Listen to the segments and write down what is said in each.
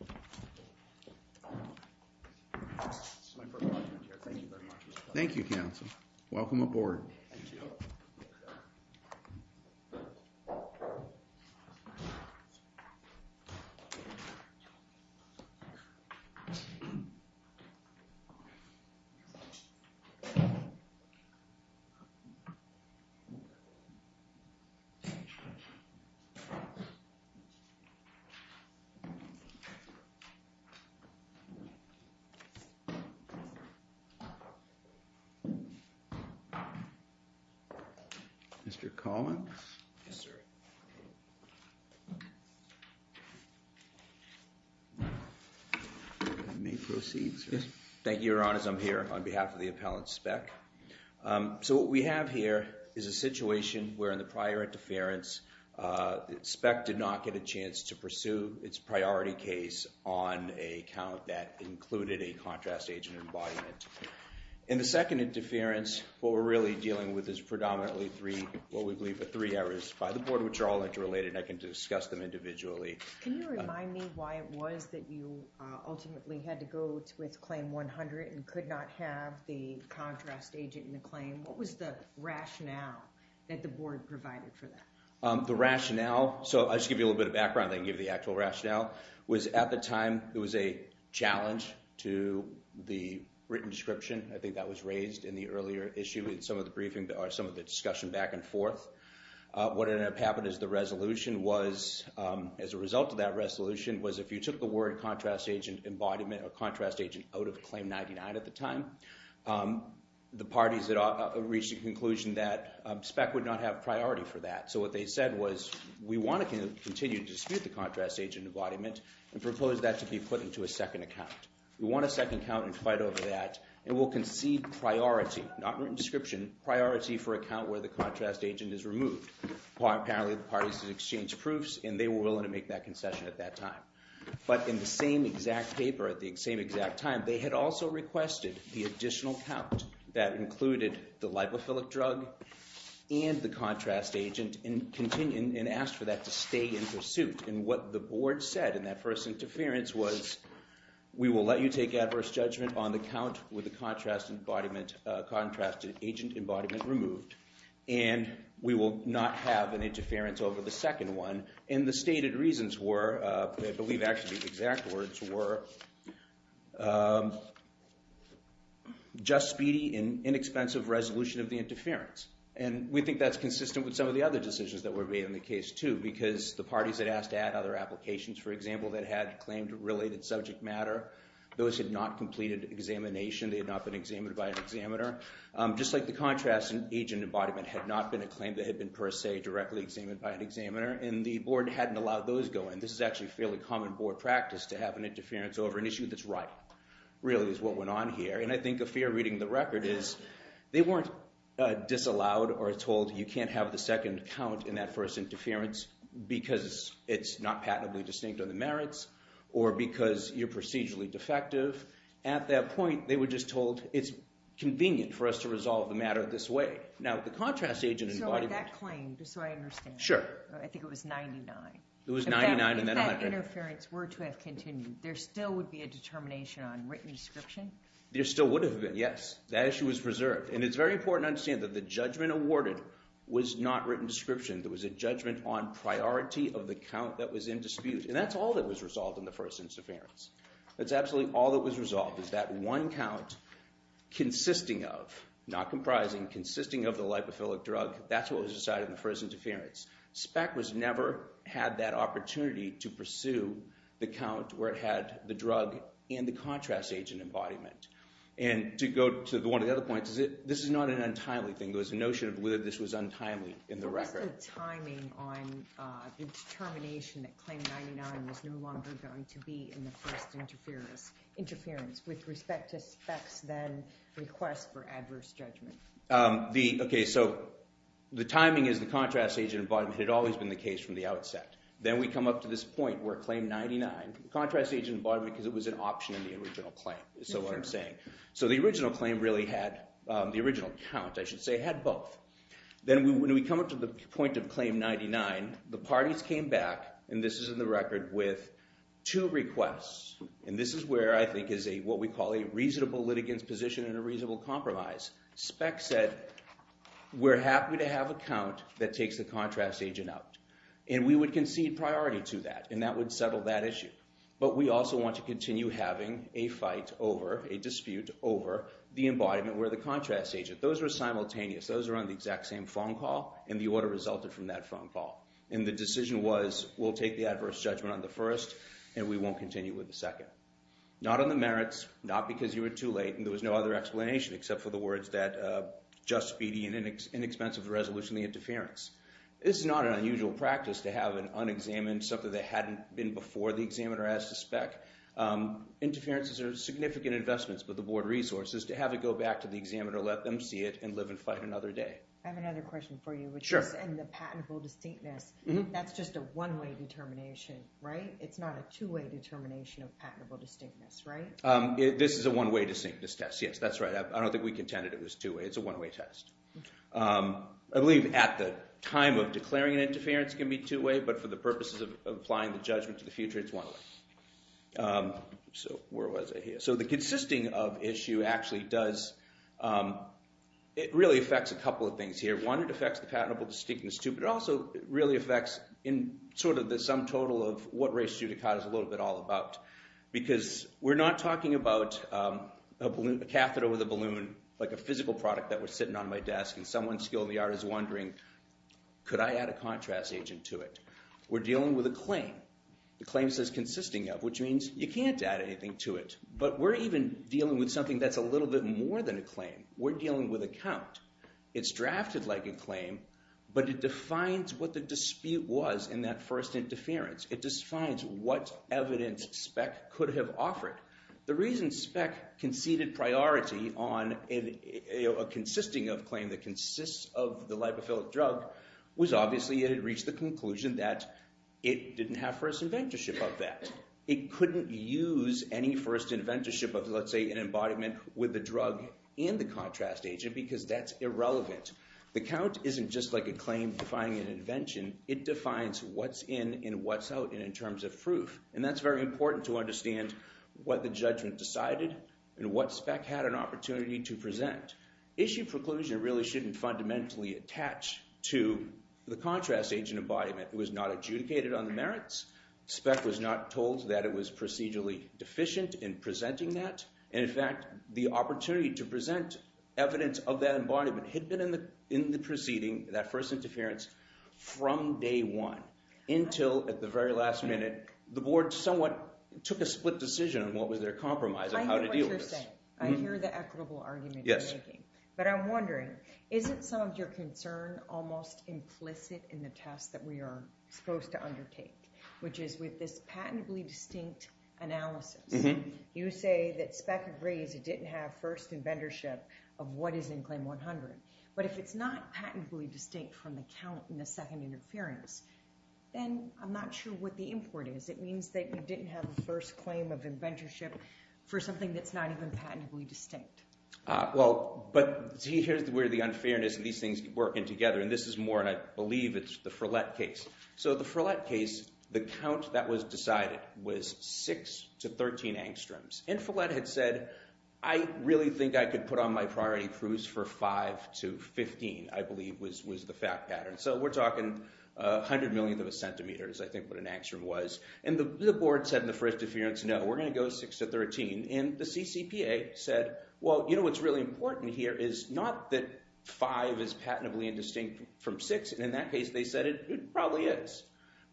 This is my first time here. Thank you very much. Thank you, Council. Welcome aboard. Thank you. Mr. Collins? Yes, sir. You may proceed, sir. Thank you, Your Honors. I'm here on behalf of the appellant, Speck. So what we have here is a situation where in the prior interference, Speck did not get a chance to pursue its priority case on a count that included a contrast agent embodiment. In the second interference, what we're really dealing with is predominantly three, what we believe are three errors by the board, which are all interrelated, and I can discuss them individually. Can you remind me why it was that you ultimately had to go with claim 100 and could not have the contrast agent in the claim? What was the rationale that the board provided for that? The rationale, so I'll just give you a little bit of background, I can give you the actual rationale, was at the time it was a challenge to the written description. I think that was raised in the earlier issue in some of the discussion back and forth. What ended up happening is the resolution was, as a result of that resolution, was if you took the word contrast agent embodiment or contrast agent out of claim 99 at the time, the parties that reached a conclusion that Speck would not have priority for that. So what they said was, we want to continue to dispute the contrast agent embodiment and propose that to be put into a second account. We want a second account and fight over that and we'll concede priority, not written description, priority for a count where the contrast agent is removed. Apparently the parties exchanged proofs and they were willing to make that concession at that time. But in the same exact paper at the same exact time, they had also requested the additional count that included the lipophilic drug and the contrast agent and asked for that to stay in pursuit. And what the board said in that first interference was, we will let you take adverse judgment on the count with the contrast agent embodiment removed. And we will not have an interference over the second one. And the stated reasons were, I believe actually the exact words were, just speedy and inexpensive resolution of the interference. And we think that's consistent with some of the other decisions that were made in the case, too. Because the parties had asked to add other applications, for example, that had claimed related subject matter. Those had not completed examination. They had not been examined by an examiner. Just like the contrast agent embodiment had not been a claim that had been per se directly examined by an examiner. And the board hadn't allowed those to go in. This is actually fairly common board practice to have an interference over an issue that's right, really, is what went on here. And I think a fair reading of the record is, they weren't disallowed or told, you can't have the second count in that first interference because it's not patently distinct of the merits or because you're procedurally defective. At that point, they were just told, it's convenient for us to resolve the matter this way. Now, the contrast agent embodiment. So that claim, just so I understand. Sure. I think it was 99. It was 99 and then 100. If that interference were to have continued, there still would be a determination on written description? There still would have been, yes. That issue was preserved. And it's very important to understand that the judgment awarded was not written description. It was a judgment on priority of the count that was in dispute. And that's all that was resolved in the first interference. That's absolutely all that was resolved is that one count consisting of, not comprising, consisting of the lipophilic drug. That's what was decided in the first interference. SPEC was never had that opportunity to pursue the count where it had the drug and the contrast agent embodiment. And to go to one of the other points, this is not an untimely thing. There was a notion of whether this was untimely in the record. What was the timing on the determination that claim 99 was no longer going to be in the first interference with respect to SPEC's then request for adverse judgment? OK, so the timing is the contrast agent embodiment had always been the case from the outset. Then we come up to this point where claim 99, the contrast agent embodiment because it was an option in the original claim, is what I'm saying. So the original claim really had the original count, I should say, had both. Then when we come up to the point of claim 99, the parties came back, and this is in the record, with two requests. And this is where I think is what we call a reasonable litigant's position and a reasonable compromise. SPEC said, we're happy to have a count that takes the contrast agent out. And we would concede priority to that, and that would settle that issue. But we also want to continue having a fight over, a dispute over, the embodiment where the contrast agent, those are simultaneous. Those are on the exact same phone call, and the order resulted from that phone call. And the decision was, we'll take the adverse judgment on the first, and we won't continue with the second. Not on the merits, not because you were too late, and there was no other explanation except for the words that, just speedy and inexpensive resolution of the interference. This is not an unusual practice to have an unexamined, something that hadn't been before the examiner as to spec. Interference is a significant investment, but the board resources to have it go back to the examiner, let them see it, and live and fight another day. I have another question for you, which is in the patentable distinctness. That's just a one-way determination, right? It's not a two-way determination of patentable distinctness, right? This is a one-way distinctness test, yes. That's right. I don't think we contended it was two-way. It's a one-way test. I believe at the time of declaring an interference can be two-way, but for the purposes of applying the judgment to the future, it's one-way. So where was I here? So the consisting of issue actually does, it really affects a couple of things here. One, it affects the patentable distinctness too, but it also really affects in sort of the sum total of what race judicata is a little bit all about. Because we're not talking about a catheter with a balloon, like a physical product that was sitting on my desk, and someone skilled in the art is wondering, could I add a contrast agent to it? We're dealing with a claim. The claim says consisting of, which means you can't add anything to it. But we're even dealing with something that's a little bit more than a claim. We're dealing with a count. It's drafted like a claim, but it defines what the dispute was in that first interference. It defines what evidence SPEC could have offered. The reason SPEC conceded priority on a consisting of claim that consists of the lipophilic drug was obviously it had reached the conclusion that it didn't have first inventorship of that. It couldn't use any first inventorship of, let's say, an embodiment with the drug and the contrast agent because that's irrelevant. The count isn't just like a claim defining an invention. It defines what's in and what's out in terms of proof. And that's very important to understand what the judgment decided and what SPEC had an opportunity to present. Issue preclusion really shouldn't fundamentally attach to the contrast agent embodiment. It was not adjudicated on the merits. SPEC was not told that it was procedurally deficient in presenting that. And in fact, the opportunity to present evidence of that embodiment had been in the proceeding, that first interference, from day one until at the very last minute the board somewhat took a split decision on what was their compromise and how to deal with this. I hear what you're saying. I hear the equitable argument you're making. But I'm wondering, isn't some of your concern almost implicit in the test that we are supposed to undertake, which is with this patently distinct analysis? You say that SPEC agrees it didn't have first inventorship of what is in Claim 100. But if it's not patently distinct from the count in the second interference, then I'm not sure what the import is. It means that you didn't have the first claim of inventorship for something that's not even patently distinct. Well, but here's where the unfairness and these things work in together. And this is more, and I believe it's the Frelette case. So the Frelette case, the count that was decided was 6 to 13 angstroms. And Frelette had said, I really think I could put on my priority cruise for 5 to 15, I believe, was the fact pattern. So we're talking 100 millionth of a centimeter is, I think, what an angstrom was. And the board said in the first interference, no, we're going to go 6 to 13. And the CCPA said, well, you know what's really important here is not that 5 is patently indistinct from 6. And in that case, they said it probably is.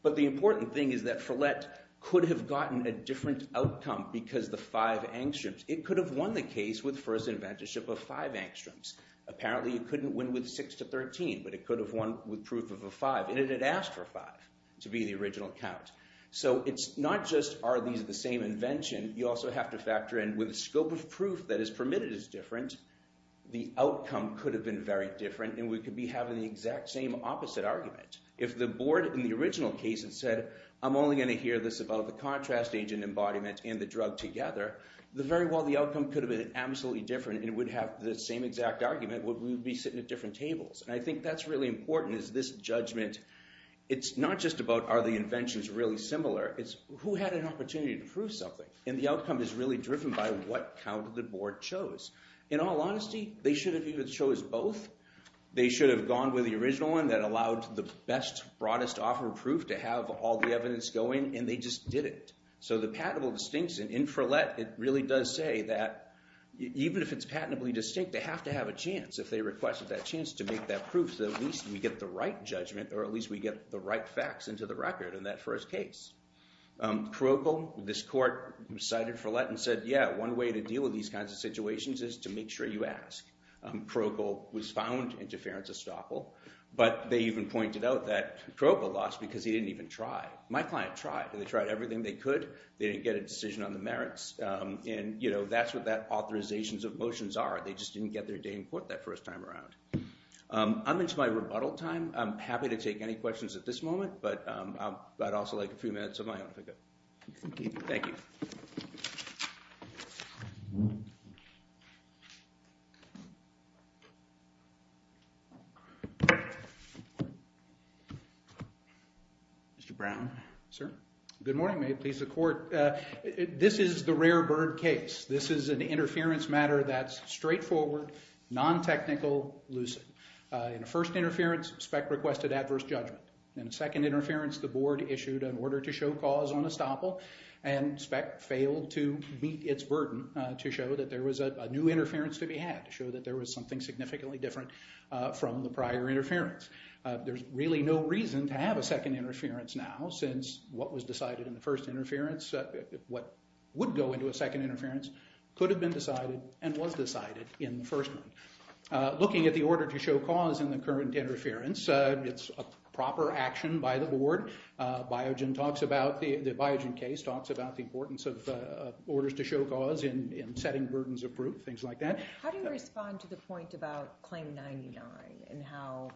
But the important thing is that Frelette could have gotten a different outcome because the 5 angstroms. It could have won the case with first inventorship of 5 angstroms. Apparently, it couldn't win with 6 to 13, but it could have won with proof of a 5. And it had asked for 5 to be the original count. So it's not just are these the same invention. You also have to factor in with the scope of proof that is permitted as different, the outcome could have been very different. And we could be having the exact same opposite argument. If the board in the original case had said, I'm only going to hear this about the contrast agent embodiment and the drug together, very well, the outcome could have been absolutely different. And it would have the same exact argument, but we would be sitting at different tables. And I think that's really important is this judgment. It's not just about are the inventions really similar. It's who had an opportunity to prove something. And the outcome is really driven by what count the board chose. In all honesty, they should have even chose both. They should have gone with the original one that allowed the best, broadest offer of proof to have all the evidence going. And they just did it. So the patentable distinction in Frelet, it really does say that even if it's patentably distinct, they have to have a chance. If they requested that chance to make that proof, at least we get the right judgment, or at least we get the right facts into the record in that first case. Kroeckel, this court cited Frelet and said, yeah, one way to deal with these kinds of situations is to make sure you ask. Kroeckel was found in deference estoppel. But they even pointed out that Kroeckel lost because he didn't even try. My client tried. They tried everything they could. They didn't get a decision on the merits. And that's what that authorizations of motions are. They just didn't get their day in court that first time around. I'm into my rebuttal time. I'm happy to take any questions at this moment. But I'd also like a few minutes of my own, if I could. Thank you. Thank you. Mr. Brown. Sir? Good morning. May it please the court. This is the rare bird case. This is an interference matter that's straightforward, non-technical, lucid. In a first interference, SPEC requested adverse judgment. In a second interference, the board issued an order to show cause on estoppel. And SPEC failed to meet its burden to show that there was a new interference to be had, to show that there was something significantly different from the prior interference. There's really no reason to have a second interference now since what was decided in the first interference, what would go into a second interference, could have been decided and was decided in the first one. Looking at the order to show cause in the current interference, it's a proper action by the board. The Biogen case talks about the importance of orders to show cause in setting burdens of proof, things like that. How do you respond to the point about Claim 99 and how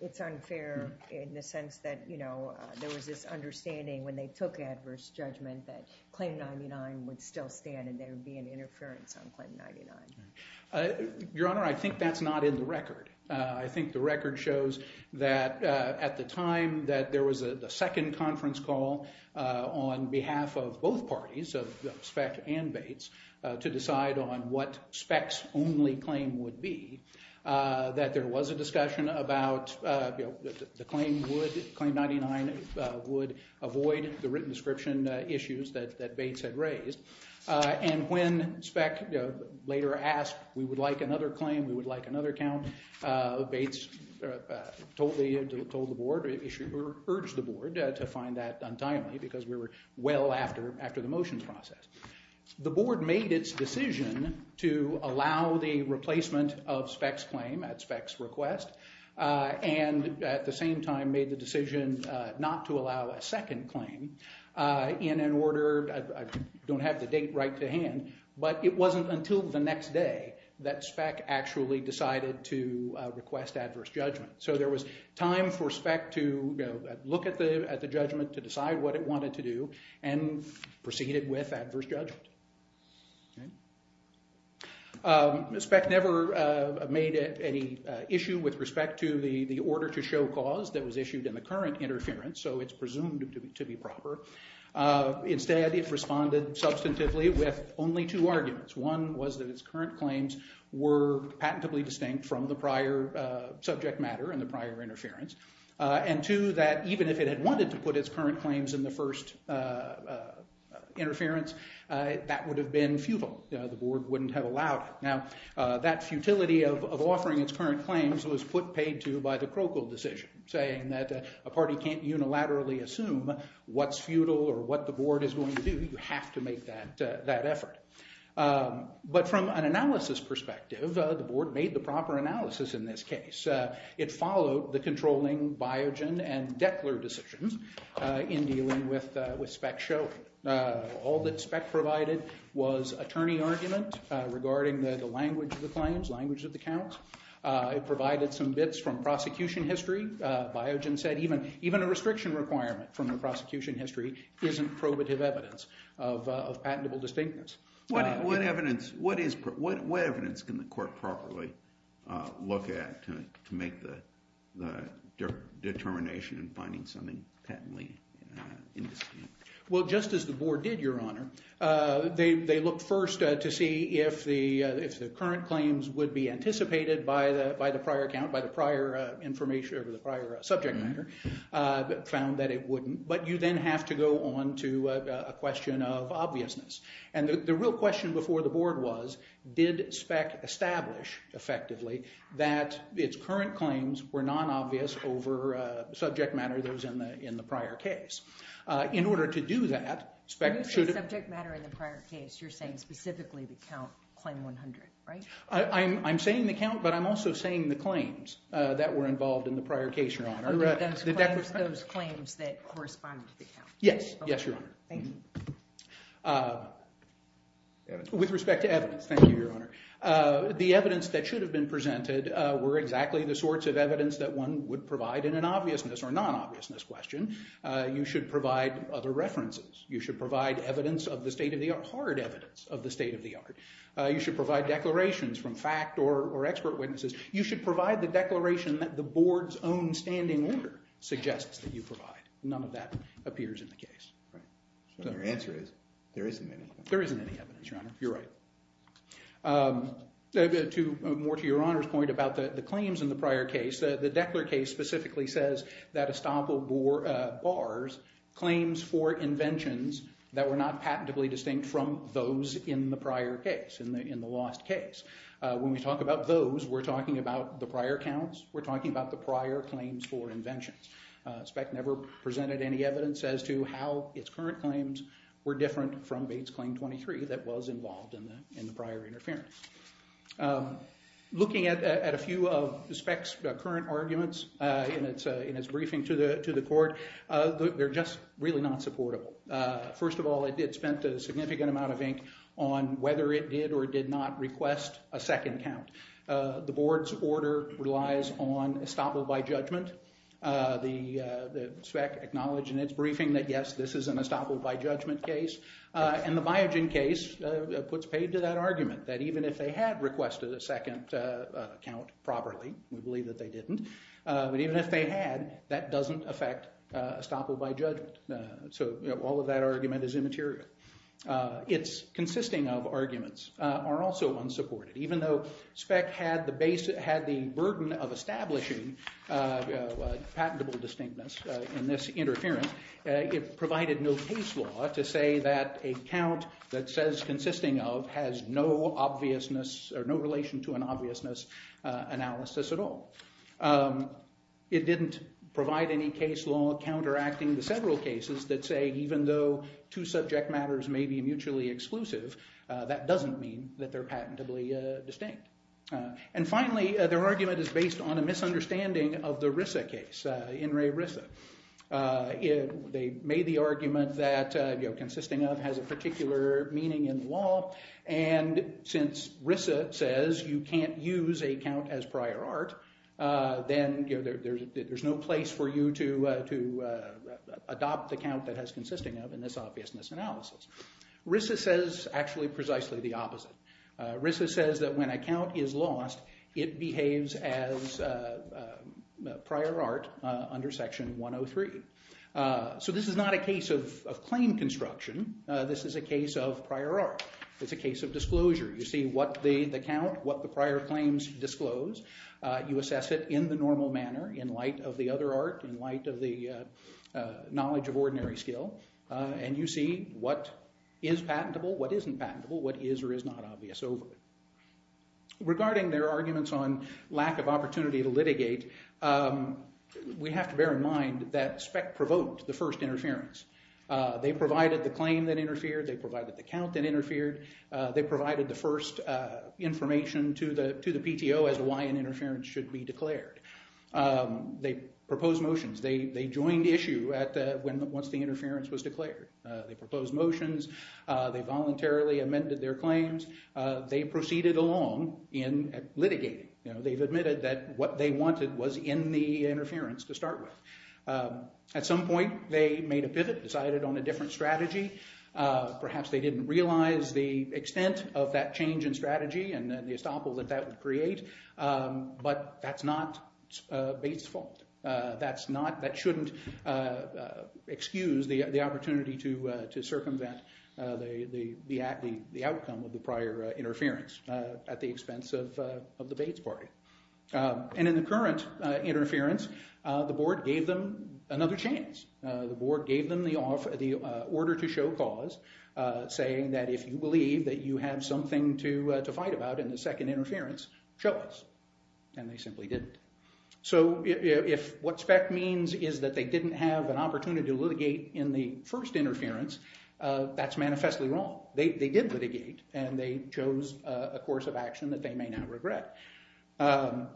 it's unfair in the sense that, you know, there was this understanding when they took adverse judgment that Claim 99 would still stand and there would be an interference on Claim 99? Your Honor, I think that's not in the record. I think the record shows that at the time that there was a second conference call on behalf of both parties, of SPEC and Bates, to decide on what SPEC's only claim would be, that there was a discussion about, you know, the claim would, Claim 99 would avoid the written description issues that Bates had raised. And when SPEC later asked, we would like another claim, we would like another count, Bates told the board or urged the board to find that untimely because we were well after the motions process. The board made its decision to allow the replacement of SPEC's claim at SPEC's request and at the same time made the decision not to allow a second claim in an order, I don't have the date right to hand, but it wasn't until the next day that SPEC actually decided to request adverse judgment. So there was time for SPEC to look at the judgment, to decide what it wanted to do, and proceeded with adverse judgment. SPEC never made any issue with respect to the order to show cause that was issued in the current interference, so it's presumed to be proper. Instead, it responded substantively with only two arguments. One was that its current claims were patentably distinct from the prior subject matter and the prior interference. And two, that even if it had wanted to put its current claims in the first interference, that would have been futile. The board wouldn't have allowed it. Now, that futility of offering its current claims was put paid to by the Krokl decision, saying that a party can't unilaterally assume what's futile or what the board is going to do. You have to make that effort. But from an analysis perspective, the board made the proper analysis in this case. It followed the controlling Biogen and Dechler decisions in dealing with SPEC's showing. All that SPEC provided was attorney argument regarding the language of the claims, language of the counts. It provided some bits from prosecution history. Biogen said even a restriction requirement from the prosecution history isn't probative evidence of patentable distinctness. What evidence can the court properly look at to make the determination in finding something patently indistinct? Well, just as the board did, Your Honor, they looked first to see if the current claims would be anticipated by the prior account, by the prior subject matter, found that it wouldn't. But you then have to go on to a question of obviousness. And the real question before the board was, did SPEC establish effectively that its current claims were non-obvious over subject matter that was in the prior case? In order to do that, SPEC should have- When you say subject matter in the prior case, you're saying specifically the count, claim 100, right? I'm saying the count, but I'm also saying the claims that were involved in the prior case, Your Honor. Those claims that correspond to the count? Yes. Yes, Your Honor. Thank you. With respect to evidence, thank you, Your Honor. The evidence that should have been presented were exactly the sorts of evidence that one would provide in an obviousness or non-obviousness question. You should provide other references. You should provide evidence of the state of the art, hard evidence of the state of the art. You should provide declarations from fact or expert witnesses. You should provide the declaration that the board's own standing order suggests that you provide. None of that appears in the case. Your answer is there isn't any. There isn't any evidence, Your Honor. You're right. More to Your Honor's point about the claims in the prior case, the Deckler case specifically says that Estoppel bars claims for inventions that were not patently distinct from those in the prior case, in the lost case. When we talk about those, we're talking about the prior counts. We're talking about the prior claims for inventions. SPEC never presented any evidence as to how its current claims were different from Bates Claim 23 that was involved in the prior interference. Looking at a few of SPEC's current arguments in its briefing to the court, they're just really not supportable. First of all, it spent a significant amount of ink on whether it did or did not request a second count. The board's order relies on Estoppel by judgment. SPEC acknowledged in its briefing that, yes, this is an Estoppel by judgment case. And the Biogen case puts paid to that argument, that even if they had requested a second count properly, we believe that they didn't, but even if they had, that doesn't affect Estoppel by judgment. So all of that argument is immaterial. Its consisting of arguments are also unsupported. Even though SPEC had the burden of establishing patentable distinctness in this interference, it provided no case law to say that a count that says consisting of has no relation to an obviousness analysis at all. It didn't provide any case law counteracting the several cases that say even though two subject matters may be mutually exclusive, that doesn't mean that they're patentably distinct. And finally, their argument is based on a misunderstanding of the Rissa case, In re Rissa. They made the argument that consisting of has a particular meaning in the law, and since Rissa says you can't use a count as prior art, then there's no place for you to adopt the count that has consisting of in this obviousness analysis. Rissa says actually precisely the opposite. Rissa says that when a count is lost, it behaves as prior art under section 103. So this is not a case of claim construction. This is a case of prior art. It's a case of disclosure. You see what the count, what the prior claims disclose. You assess it in the normal manner, in light of the other art, in light of the knowledge of ordinary skill, and you see what is patentable, what isn't patentable, what is or is not obvious over it. Regarding their arguments on lack of opportunity to litigate, we have to bear in mind that SPECT provoked the first interference. They provided the claim that interfered. They provided the count that interfered. They provided the first information to the PTO as to why an interference should be declared. They proposed motions. They joined issue once the interference was declared. They proposed motions. They voluntarily amended their claims. They proceeded along in litigating. They've admitted that what they wanted was in the interference to start with. At some point, they made a pivot, decided on a different strategy. Perhaps they didn't realize the extent of that change in strategy and the estoppel that that would create, but that's not Bates' fault. That shouldn't excuse the opportunity to circumvent the outcome of the prior interference at the expense of the Bates party. And in the current interference, the board gave them another chance. The board gave them the order to show cause, saying that if you believe that you have something to fight about in the second interference, show us. And they simply didn't. So if what SPECT means is that they didn't have an opportunity to litigate in the first interference, that's manifestly wrong. They did litigate, and they chose a course of action that they may not regret.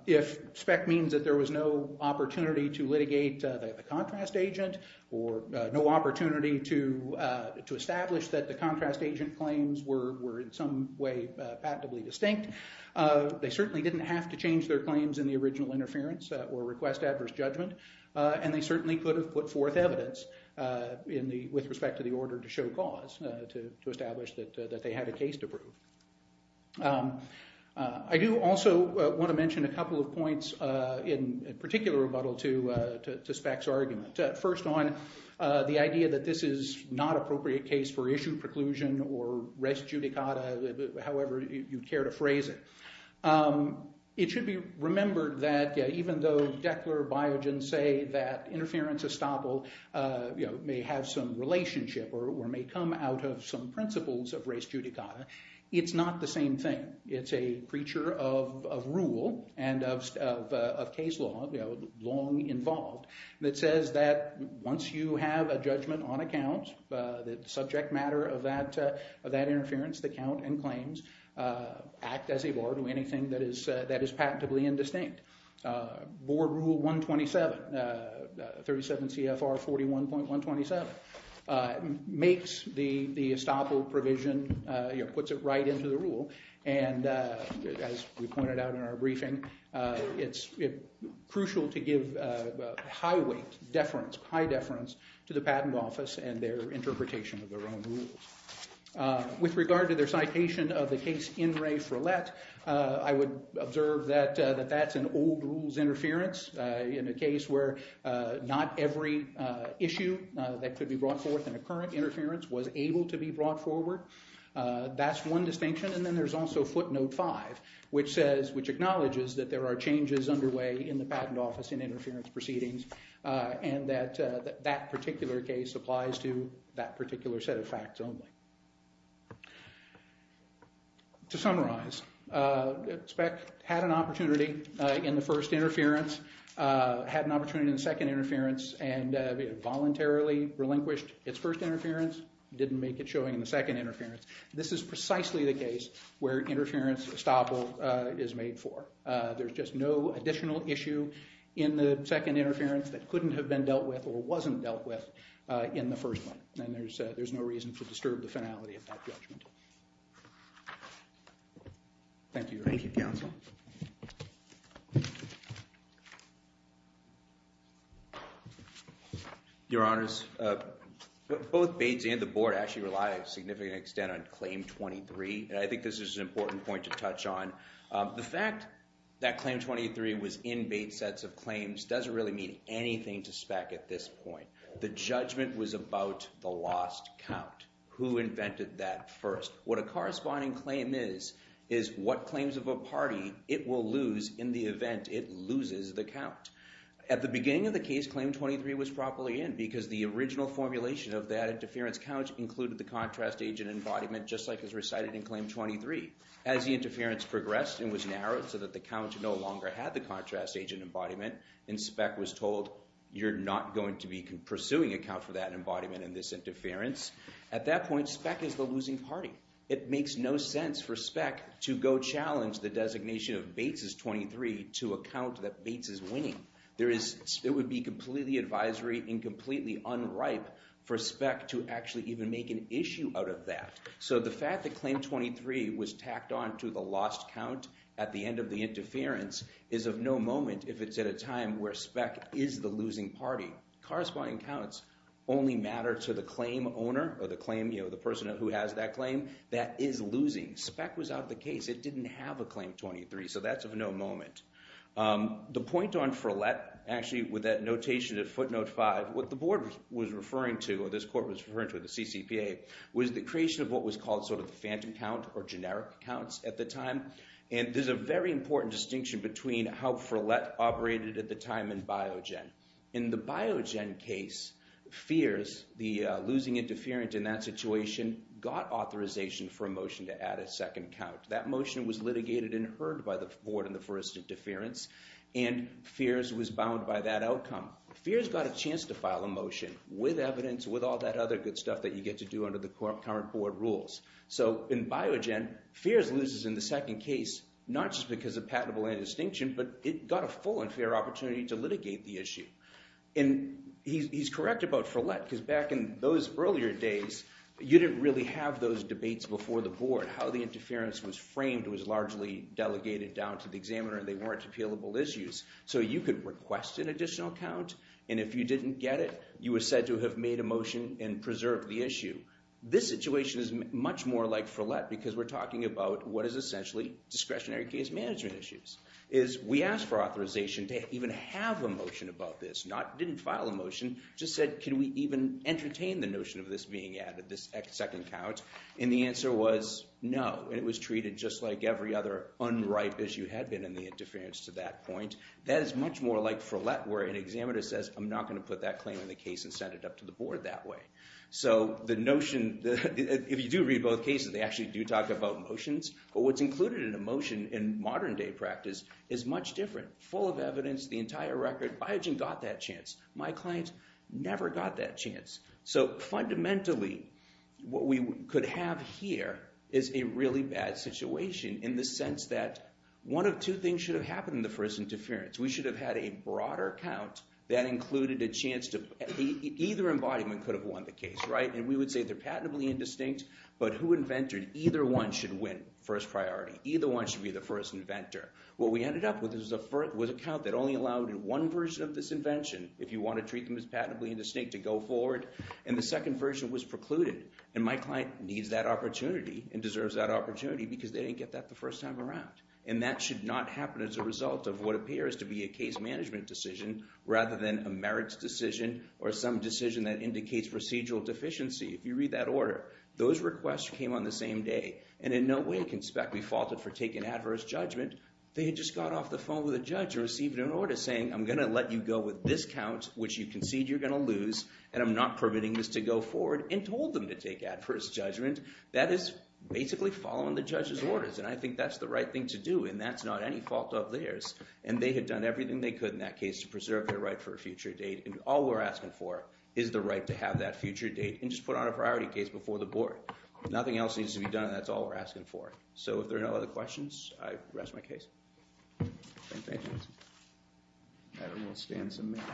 If SPECT means that there was no opportunity to litigate the contrast agent or no opportunity to establish that the contrast agent claims were in some way patently distinct, they certainly didn't have to change their claims in the original interference or request adverse judgment. And they certainly could have put forth evidence with respect to the order to show cause to establish that they had a case to prove. I do also want to mention a couple of points in particular rebuttal to SPECT's argument. First on the idea that this is not appropriate case for issue preclusion or res judicata, however you care to phrase it. It should be remembered that even though Declar, Biogen say that interference estoppel may have some relationship or may come out of some principles of res judicata, it's not the same thing. It's a creature of rule and of case law, long involved, that says that once you have a judgment on a count, the subject matter of that interference, the count and claims, act as a bar to anything that is patently indistinct. Board rule 127, 37 CFR 41.127, makes the estoppel provision, puts it right into the rule. And as we pointed out in our briefing, it's crucial to give high weight, high deference to the patent office and their interpretation of their own rules. With regard to their citation of the case In Re Frelet, I would observe that that's an old rules interference in a case where not every issue that could be brought forth in a current interference was able to be brought forward. That's one distinction. And then there's also footnote five, which acknowledges that there are changes underway in the patent office in interference proceedings and that that particular case applies to that particular set of facts only. To summarize, SPEC had an opportunity in the first interference, had an opportunity in the second interference, and voluntarily relinquished its first interference. Didn't make it showing in the second interference. This is precisely the case where interference estoppel is made for. There's just no additional issue in the second interference that couldn't have been dealt with or wasn't dealt with in the first one. And there's no reason to disturb the finality of that judgment. Thank you. Thank you, counsel. Your honors, both Bates and the board actually rely a significant extent on claim 23. And I think this is an important point to touch on. The fact that claim 23 was in Bates' sets of claims doesn't really mean anything to SPEC at this point. The judgment was about the lost count. Who invented that first? What a corresponding claim is is what claims of a party it will lose in the event it loses the count. At the beginning of the case, claim 23 was properly in because the original formulation of that interference count included the contrast agent embodiment, just like is recited in claim 23. As the interference progressed and was narrowed so that the count no longer had the contrast agent embodiment and SPEC was told, you're not going to be pursuing a count for that embodiment in this interference. At that point, SPEC is the losing party. It makes no sense for SPEC to go challenge the designation of Bates' 23 to account that Bates is winning. It would be completely advisory and completely unripe for SPEC to actually even make an issue out of that. So the fact that claim 23 was tacked on to the lost count at the end of the interference is of no moment if it's at a time where SPEC is the losing party. Corresponding counts only matter to the claim owner or the person who has that claim that is losing. SPEC was out of the case. It didn't have a claim 23, so that's of no moment. The point on FRLET, actually, with that notation of footnote 5, what the board was referring to or this court was referring to, the CCPA, was the creation of what was called sort of the phantom count or generic counts at the time. And there's a very important distinction between how FRLET operated at the time and Biogen. In the Biogen case, FEARS, the losing interference in that situation, got authorization for a motion to add a second count. That motion was litigated and heard by the board in the first interference, and FEARS was bound by that outcome. FEARS got a chance to file a motion with evidence, with all that other good stuff that you get to do under the current board rules. So in Biogen, FEARS loses in the second case not just because of patentable indistinction, but it got a full and fair opportunity to litigate the issue. And he's correct about FRLET, because back in those earlier days, you didn't really have those debates before the board. How the interference was framed was largely delegated down to the examiner, and they weren't appealable issues. So you could request an additional count, and if you didn't get it, you were said to have made a motion and preserved the issue. This situation is much more like FRLET, because we're talking about what is essentially discretionary case management issues. We asked for authorization to even have a motion about this, not didn't file a motion, just said, can we even entertain the notion of this being added, this second count? And the answer was no, and it was treated just like every other unripe issue had been in the interference to that point. That is much more like FRLET, where an examiner says, I'm not going to put that claim in the case and send it up to the board that way. So the notion, if you do read both cases, they actually do talk about motions, but what's included in a motion in modern day practice is much different. Full of evidence, the entire record, Biogen got that chance. My client never got that chance. So fundamentally, what we could have here is a really bad situation in the sense that one of two things should have happened in the first interference. We should have had a broader count that included a chance to, either embodiment could have won the case, right? And we would say they're patently indistinct, but who invented either one should win first priority. Either one should be the first inventor. What we ended up with was a count that only allowed one version of this invention, if you want to treat them as patently indistinct to go forward, and the second version was precluded. And my client needs that opportunity and deserves that opportunity because they didn't get that the first time around. And that should not happen as a result of what appears to be a case management decision rather than a merits decision or some decision that indicates procedural deficiency, if you read that order. Those requests came on the same day, and in no way can spec we faulted for taking adverse judgment. They had just got off the phone with a judge and received an order saying, I'm going to let you go with this count, which you concede you're going to lose, and I'm not permitting this to go forward, and told them to take adverse judgment. That is basically following the judge's orders, and I think that's the right thing to do, and that's not any fault of theirs, and they had done everything they could in that case to preserve their right for a future date, and all we're asking for is the right to have that future date and just put on a priority case before the board. Nothing else needs to be done, and that's all we're asking for. So if there are no other questions, I rest my case. Thank you. Madam, we'll stand some minutes.